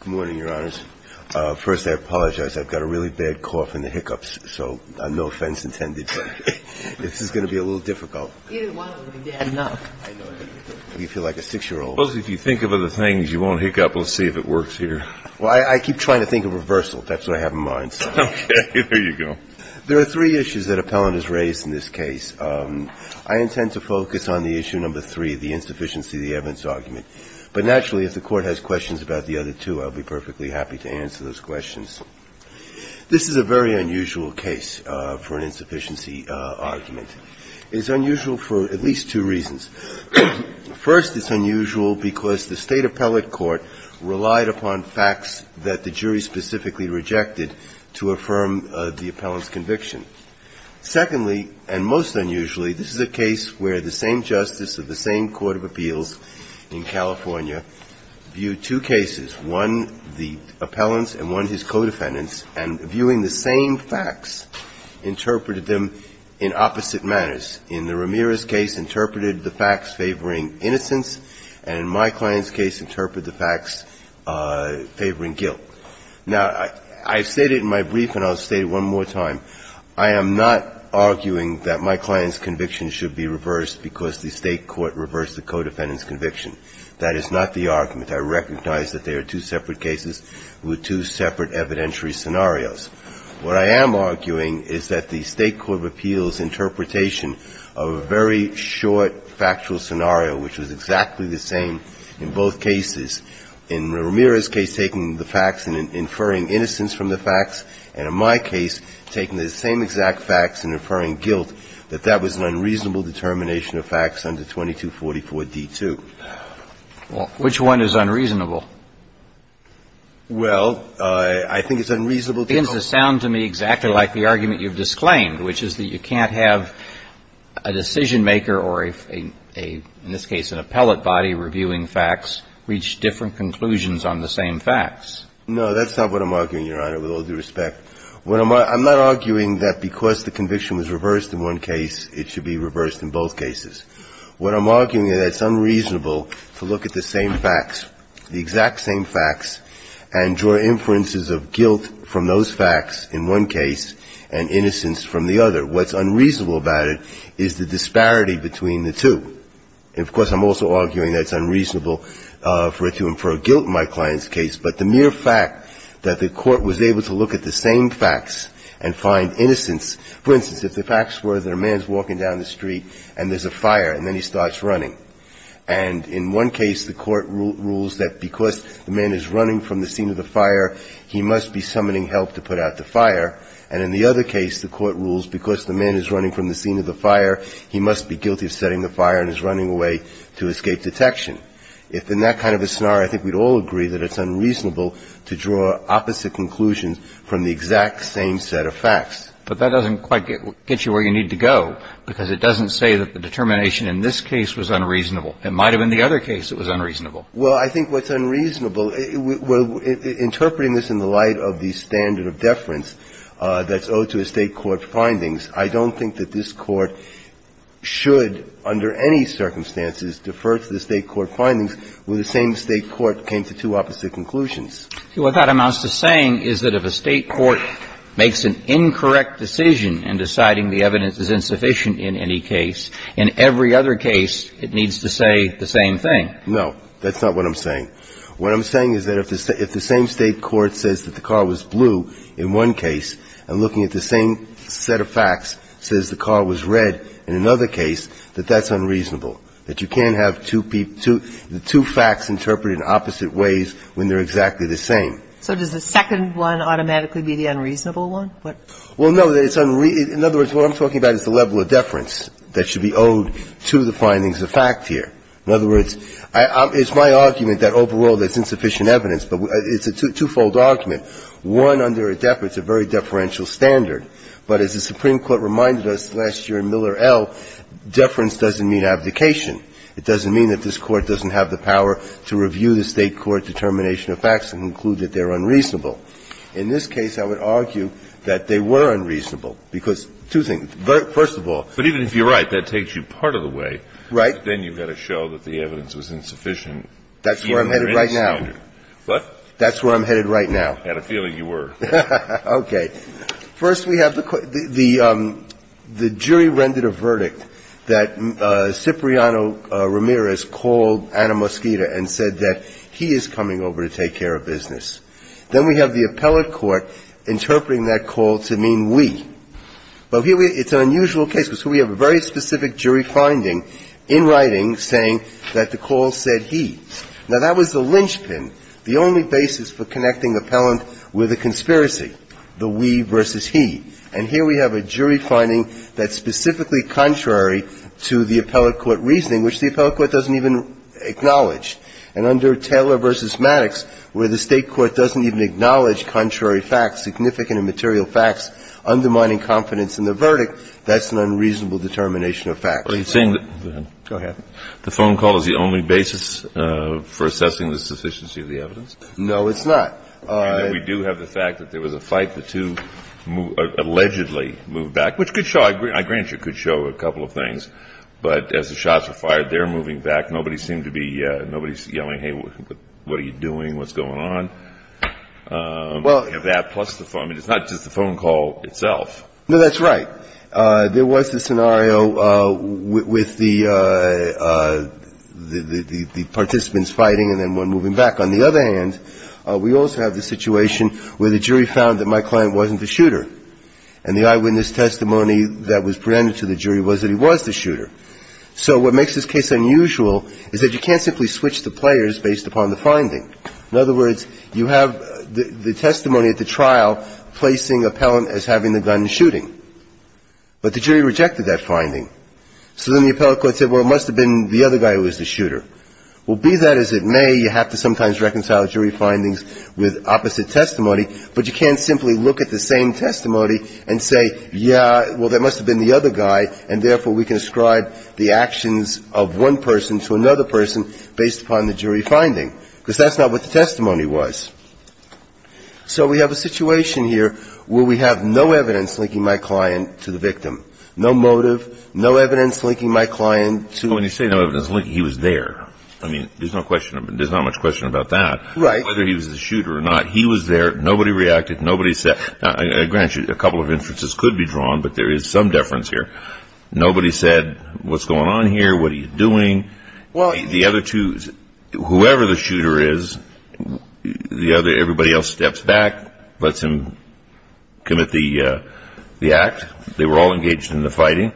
Good morning, Your Honors. First, I apologize. I've got a really bad cough and the hiccups, so no offense intended. This is going to be a little difficult. You didn't want it to be bad enough. You feel like a six-year-old. Well, if you think of other things, you won't hiccup. We'll see if it works here. Well, I keep trying to think of reversal. That's what I have in mind. Okay. There you go. There are three issues that appellant has raised in this case. I intend to focus on the issue number three, the insufficiency of the evidence argument. But naturally, if the Court has questions about the other two, I'll be perfectly happy to answer those questions. This is a very unusual case for an insufficiency argument. It is unusual for at least two reasons. First, it's unusual because the State Appellate Court relied upon facts that the jury specifically rejected to affirm the appellant's conviction. Secondly, and most unusually, this is a case where the same justice of the same court of appeals in California viewed two cases, one the appellant's and one his co-defendant's, and viewing the same facts, interpreted them in opposite manners. In the Ramirez case, interpreted the facts favoring innocence, and in my client's case, interpreted the facts favoring guilt. Now, I've stated in my brief, and I'll state it one more time, I am not arguing that my client's conviction should be reversed because the State Court reversed the co-defendant's conviction. That is not the argument. I recognize that they are two separate cases with two separate evidentiary scenarios. What I am arguing is that the State Court of Appeals' interpretation of a very short factual scenario, which was exactly the same in both cases, and in my case, taking the same exact facts and inferring guilt, that that was an unreasonable determination of facts under 2244d2. Well, which one is unreasonable? Well, I think it's unreasonable to know. It seems to sound to me exactly like the argument you've disclaimed, which is that you can't have a decision-maker or, in this case, an appellate body reviewing facts reach different conclusions on the same facts. No, that's not what I'm arguing, Your Honor, with all due respect. I'm not arguing that because the conviction was reversed in one case, it should be reversed in both cases. What I'm arguing is that it's unreasonable to look at the same facts, the exact same facts, and draw inferences of guilt from those facts in one case and innocence from the other. What's unreasonable about it is the disparity between the two. And, of course, I'm also arguing that it's unreasonable for it to infer guilt in my client's case, but the mere fact that the Court was able to look at the same facts and find innocence. For instance, if the facts were that a man's walking down the street and there's a fire and then he starts running, and in one case, the Court rules that because the man is running from the scene of the fire, he must be summoning help to put out the fire, and in the other case, the Court rules because the man is running from the scene of the fire, he must be guilty of setting the fire and is running away to escape detection. If in that kind of a scenario, I think we'd all agree that it's unreasonable to draw opposite conclusions from the exact same set of facts. But that doesn't quite get you where you need to go, because it doesn't say that the determination in this case was unreasonable. It might have been the other case that was unreasonable. Well, I think what's unreasonable, interpreting this in the light of the standard of deference that's owed to a State court findings, I don't think that this Court should, under any circumstances, defer to the State court findings when the same State court came to two opposite conclusions. What that amounts to saying is that if a State court makes an incorrect decision in deciding the evidence is insufficient in any case, in every other case, it needs to say the same thing. No, that's not what I'm saying. What I'm saying is that if the same State court says that the car was blue in one case and looking at the same set of facts, says the car was red in another case, that that's unreasonable. That you can't have two facts interpreted in opposite ways when they're exactly the same. So does the second one automatically be the unreasonable one? Well, no. In other words, what I'm talking about is the level of deference that should be owed to the findings of fact here. In other words, it's my argument that overall there's insufficient evidence, but it's a twofold argument. One, under a deference, a very deferential standard. But as the Supreme Court reminded us last year in Miller L., deference doesn't mean abdication. It doesn't mean that this Court doesn't have the power to review the State court determination of facts and conclude that they're unreasonable. In this case, I would argue that they were unreasonable, because two things. First of all. But even if you're right, that takes you part of the way. Right. Then you've got to show that the evidence was insufficient. That's where I'm headed right now. What? That's where I'm headed right now. I had a feeling you were. Okay. First we have the jury rendered a verdict that Cipriano-Ramirez called Anna Mosqueda and said that he is coming over to take care of business. Then we have the appellate court interpreting that call to mean we. But here it's an unusual case, because here we have a very specific jury finding in writing saying that the call said he. Now, that was the linchpin, the only basis for connecting appellant with a conspiracy, the we versus he. And here we have a jury finding that's specifically contrary to the appellate court reasoning, which the appellate court doesn't even acknowledge. And under Taylor v. Maddox, where the State court doesn't even acknowledge contrary facts, significant and material facts, undermining confidence in the verdict, that's an unreasonable determination of facts. Are you saying that. Go ahead. The phone call is the only basis for assessing the sufficiency of the evidence? No, it's not. We do have the fact that there was a fight. The two allegedly moved back, which could show, I grant you, could show a couple of things. But as the shots were fired, they're moving back. Nobody seemed to be, nobody's yelling, hey, what are you doing? What's going on? Well. You have that plus the phone. I mean, it's not just the phone call itself. No, that's right. There was the scenario with the participants fighting and then one moving back. On the other hand, we also have the situation where the jury found that my client wasn't the shooter. And the eyewitness testimony that was presented to the jury was that he was the shooter. So what makes this case unusual is that you can't simply switch the players based upon the finding. In other words, you have the testimony at the trial placing appellant as having the gun shooting. But the jury rejected that finding. So then the appellate court said, well, it must have been the other guy who was the shooter. Well, be that as it may, you have to sometimes reconcile jury findings with opposite testimony, but you can't simply look at the same testimony and say, yeah, well, that must have been the other guy, and therefore, we can ascribe the actions of one person to another person based upon the jury finding. Because that's not what the testimony was. So we have a situation here where we have no evidence linking my client to the victim. No motive. No evidence linking my client to the victim. When you say no evidence linking, he was there. I mean, there's not much question about that. Right. Whether he was the shooter or not, he was there. Nobody reacted. A couple of inferences could be drawn, but there is some deference here. Nobody said, what's going on here? What are you doing? Well, the other two, whoever the shooter is, the other, everybody else steps back, lets him commit the act. They were all engaged in the fighting.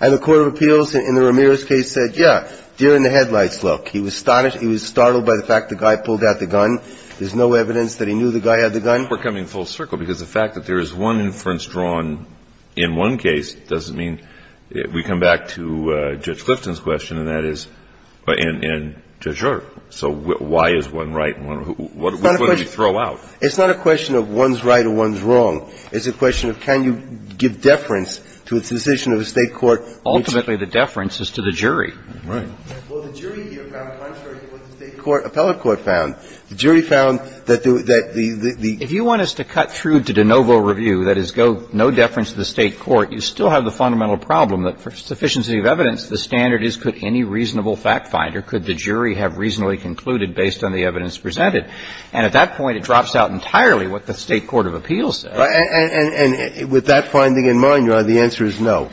And the court of appeals in the Ramirez case said, yeah, during the headlights look, he was startled by the fact the guy pulled out the gun. There's no evidence that he knew the guy had the gun. We're coming full circle because the fact that there is one inference drawn in one case doesn't mean we come back to Judge Clifton's question, and that is in Judge Ehrt. So why is one right? What did you throw out? It's not a question of one's right or one's wrong. It's a question of can you give deference to a decision of a State court. Ultimately, the deference is to the jury. Right. Well, the jury here found contrary to what the State court, appellate court found. The jury found that the ‑‑ If you want us to cut through to de novo review, that is go no deference to the State court. You still have the fundamental problem that for sufficiency of evidence, the standard is could any reasonable fact finder, could the jury have reasonably concluded based on the evidence presented. And at that point, it drops out entirely what the State court of appeals says. And with that finding in mind, Your Honor, the answer is no.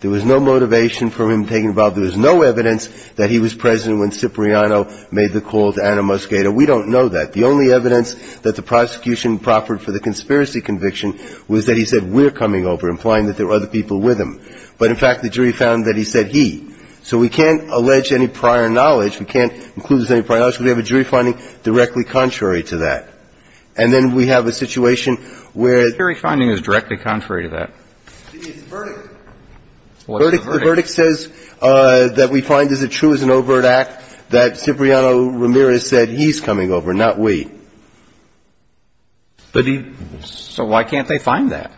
There was no motivation for him taking a bow. There was no evidence that he was present when Cipriano made the call to Anna Mosqueda. We don't know that. The only evidence that the prosecution proffered for the conspiracy conviction was that he said we're coming over, implying that there were other people with him. But, in fact, the jury found that he said he. So we can't allege any prior knowledge. We can't conclude there's any prior knowledge because we have a jury finding directly contrary to that. And then we have a situation where ‑‑ The jury finding is directly contrary to that. It's a verdict. It's a verdict. The verdict says that we find is it true as an overt act that Cipriano Ramirez said he's coming over, not we. But he ‑‑ So why can't they find that?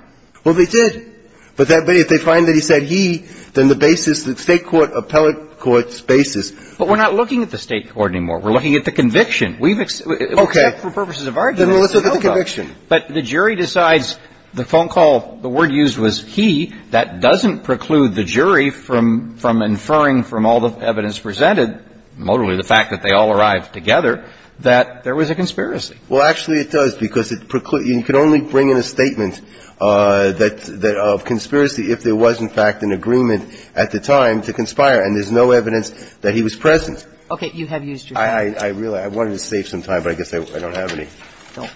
Well, they did. But if they find that he said he, then the basis, the State court appellate court's basis ‑‑ But we're not looking at the State court anymore. We're looking at the conviction. We've ‑‑ Okay. Except for purposes of our jury. Then let's look at the conviction. But the jury decides the phone call, the word used was he. That doesn't preclude the jury from inferring from all the evidence presented, notably the fact that they all arrived together, that there was a conspiracy. Well, actually it does because it precludes ‑‑ you can only bring in a statement of conspiracy if there was, in fact, an agreement at the time to conspire. And there's no evidence that he was present. Okay. You have used your time. I wanted to save some time, but I guess I don't have any. No.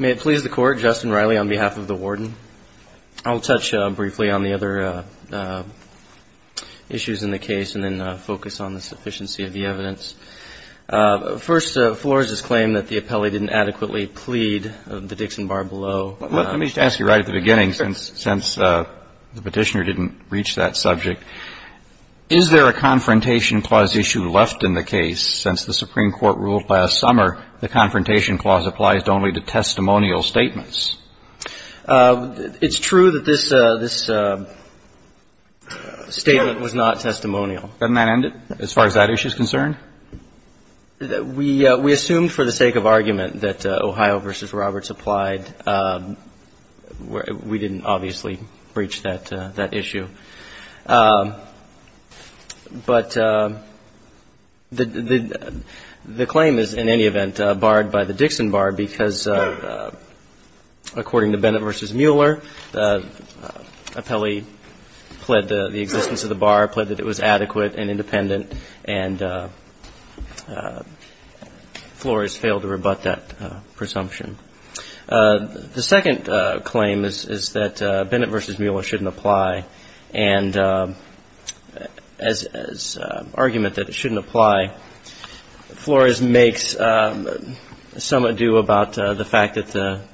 May it please the Court, Justin Riley on behalf of the warden. I'll touch briefly on the other issues in the case and then focus on the sufficiency of the evidence. First, Flores has claimed that the appellee didn't adequately plead the Dixon bar below. Let me just ask you right at the beginning, since the Petitioner didn't reach that subject. Is there a Confrontation Clause issue left in the case since the Supreme Court ruled last summer the Confrontation Clause applies only to testimonial statements? It's true that this statement was not testimonial. Doesn't that end it as far as that issue is concerned? We assumed for the sake of argument that Ohio v. Roberts applied. We didn't obviously reach that issue. But the claim is, in any event, barred by the Dixon bar because according to Bennett v. Mueller, the appellee pled the existence of the bar, pled that it was adequate and independent, and Flores failed to rebut that presumption. The second claim is that Bennett v. Mueller shouldn't apply. And as argument that it shouldn't apply, Flores makes some adieu about the fact that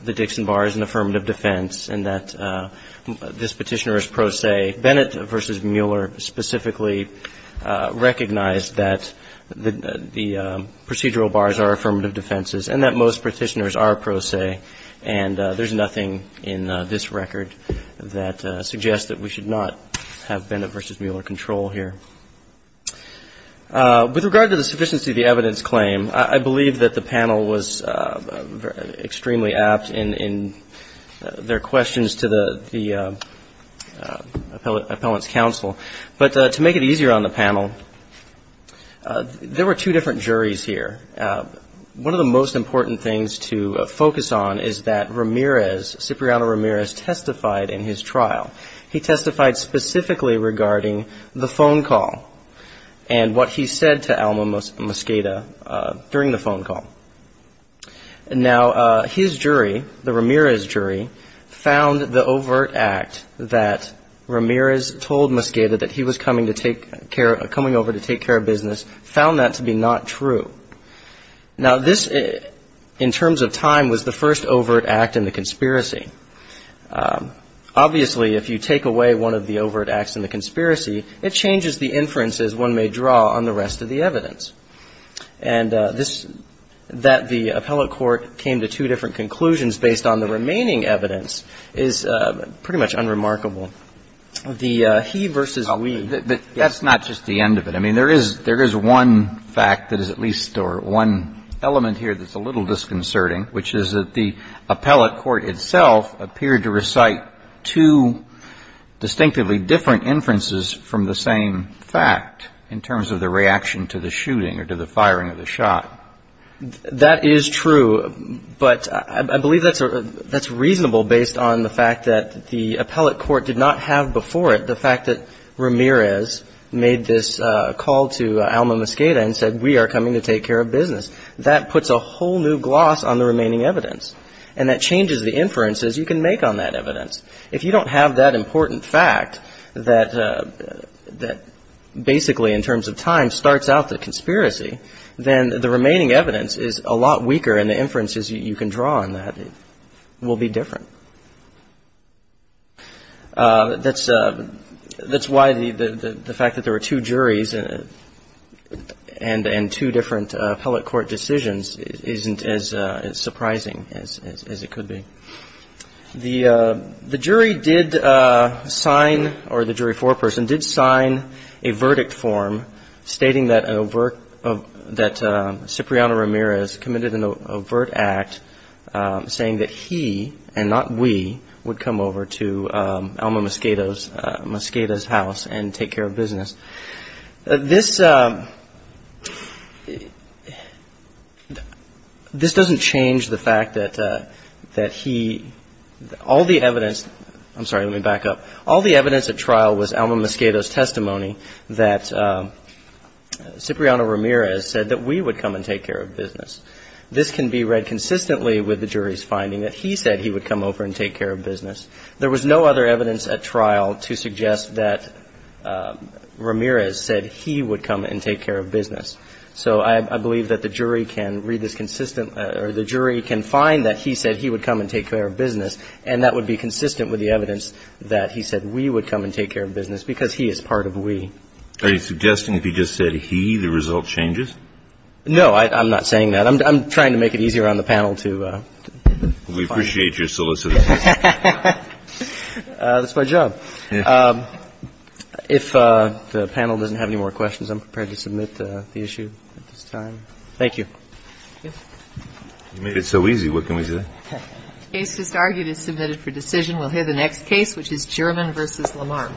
the Dixon bar is an affirmative defense and that this Petitioner is pro se. Bennett v. Mueller specifically recognized that the procedural bars are affirmative defenses and that most Petitioners are pro se, and there's nothing in this record that suggests that we should not have Bennett v. Mueller control here. With regard to the sufficiency of the evidence claim, I believe that the panel was extremely apt in their questions to the appellate's counsel. But to make it easier on the panel, there were two different juries here. One of the most important things to focus on is that Ramirez, Cipriano Ramirez, testified in his trial. He testified specifically regarding the phone call and what he said to Alma Mosqueda during the phone call. Now, his jury, the Ramirez jury, found the overt act that Ramirez told Mosqueda that he was coming over to take care of business, found that to be not true. Now, this, in terms of time, was the first overt act in the conspiracy. Obviously, if you take away one of the overt acts in the conspiracy, it changes the inferences one may draw on the rest of the evidence. And that the appellate court came to two different conclusions based on the remaining evidence is pretty much unremarkable. The he versus we. But that's not just the end of it. I mean, there is one fact that is at least or one element here that's a little disconcerting, which is that the appellate court itself appeared to recite two distinctively different inferences from the same fact in terms of the reaction to the shooting or to the firing of the shot. That is true. But I believe that's reasonable based on the fact that the appellate court did not have before it the fact that Ramirez made this call to Alma Mosqueda and said, we are coming to take care of business. That puts a whole new gloss on the remaining evidence. And that changes the inferences you can make on that evidence. If you don't have that important fact that basically, in terms of time, starts out the difference is you can draw on that will be different. That's why the fact that there were two juries and two different appellate court decisions isn't as surprising as it could be. The jury did sign or the jury foreperson did sign a verdict form stating that Cypriano Ramirez committed an overt act saying that he and not we would come over to Alma Mosqueda's house and take care of business. This doesn't change the fact that he, all the evidence, I'm sorry, let me back up. All the evidence at trial was Alma Mosqueda's testimony that Cypriano Ramirez said that he would come and take care of business. This can be read consistently with the jury's finding that he said he would come over and take care of business. There was no other evidence at trial to suggest that Ramirez said he would come and take care of business. So I believe that the jury can read this consistently or the jury can find that he said he would come and take care of business and that would be consistent with the evidence that he said we would come and take care of business because he is part of we. Are you suggesting if he just said he, the result changes? No, I'm not saying that. I'm trying to make it easier on the panel to find out. We appreciate your solicitude. That's my job. If the panel doesn't have any more questions, I'm prepared to submit the issue at this time. Thank you. You made it so easy. What can we say? The case just argued is submitted for decision. We'll hear the next case, which is German v. Lamar.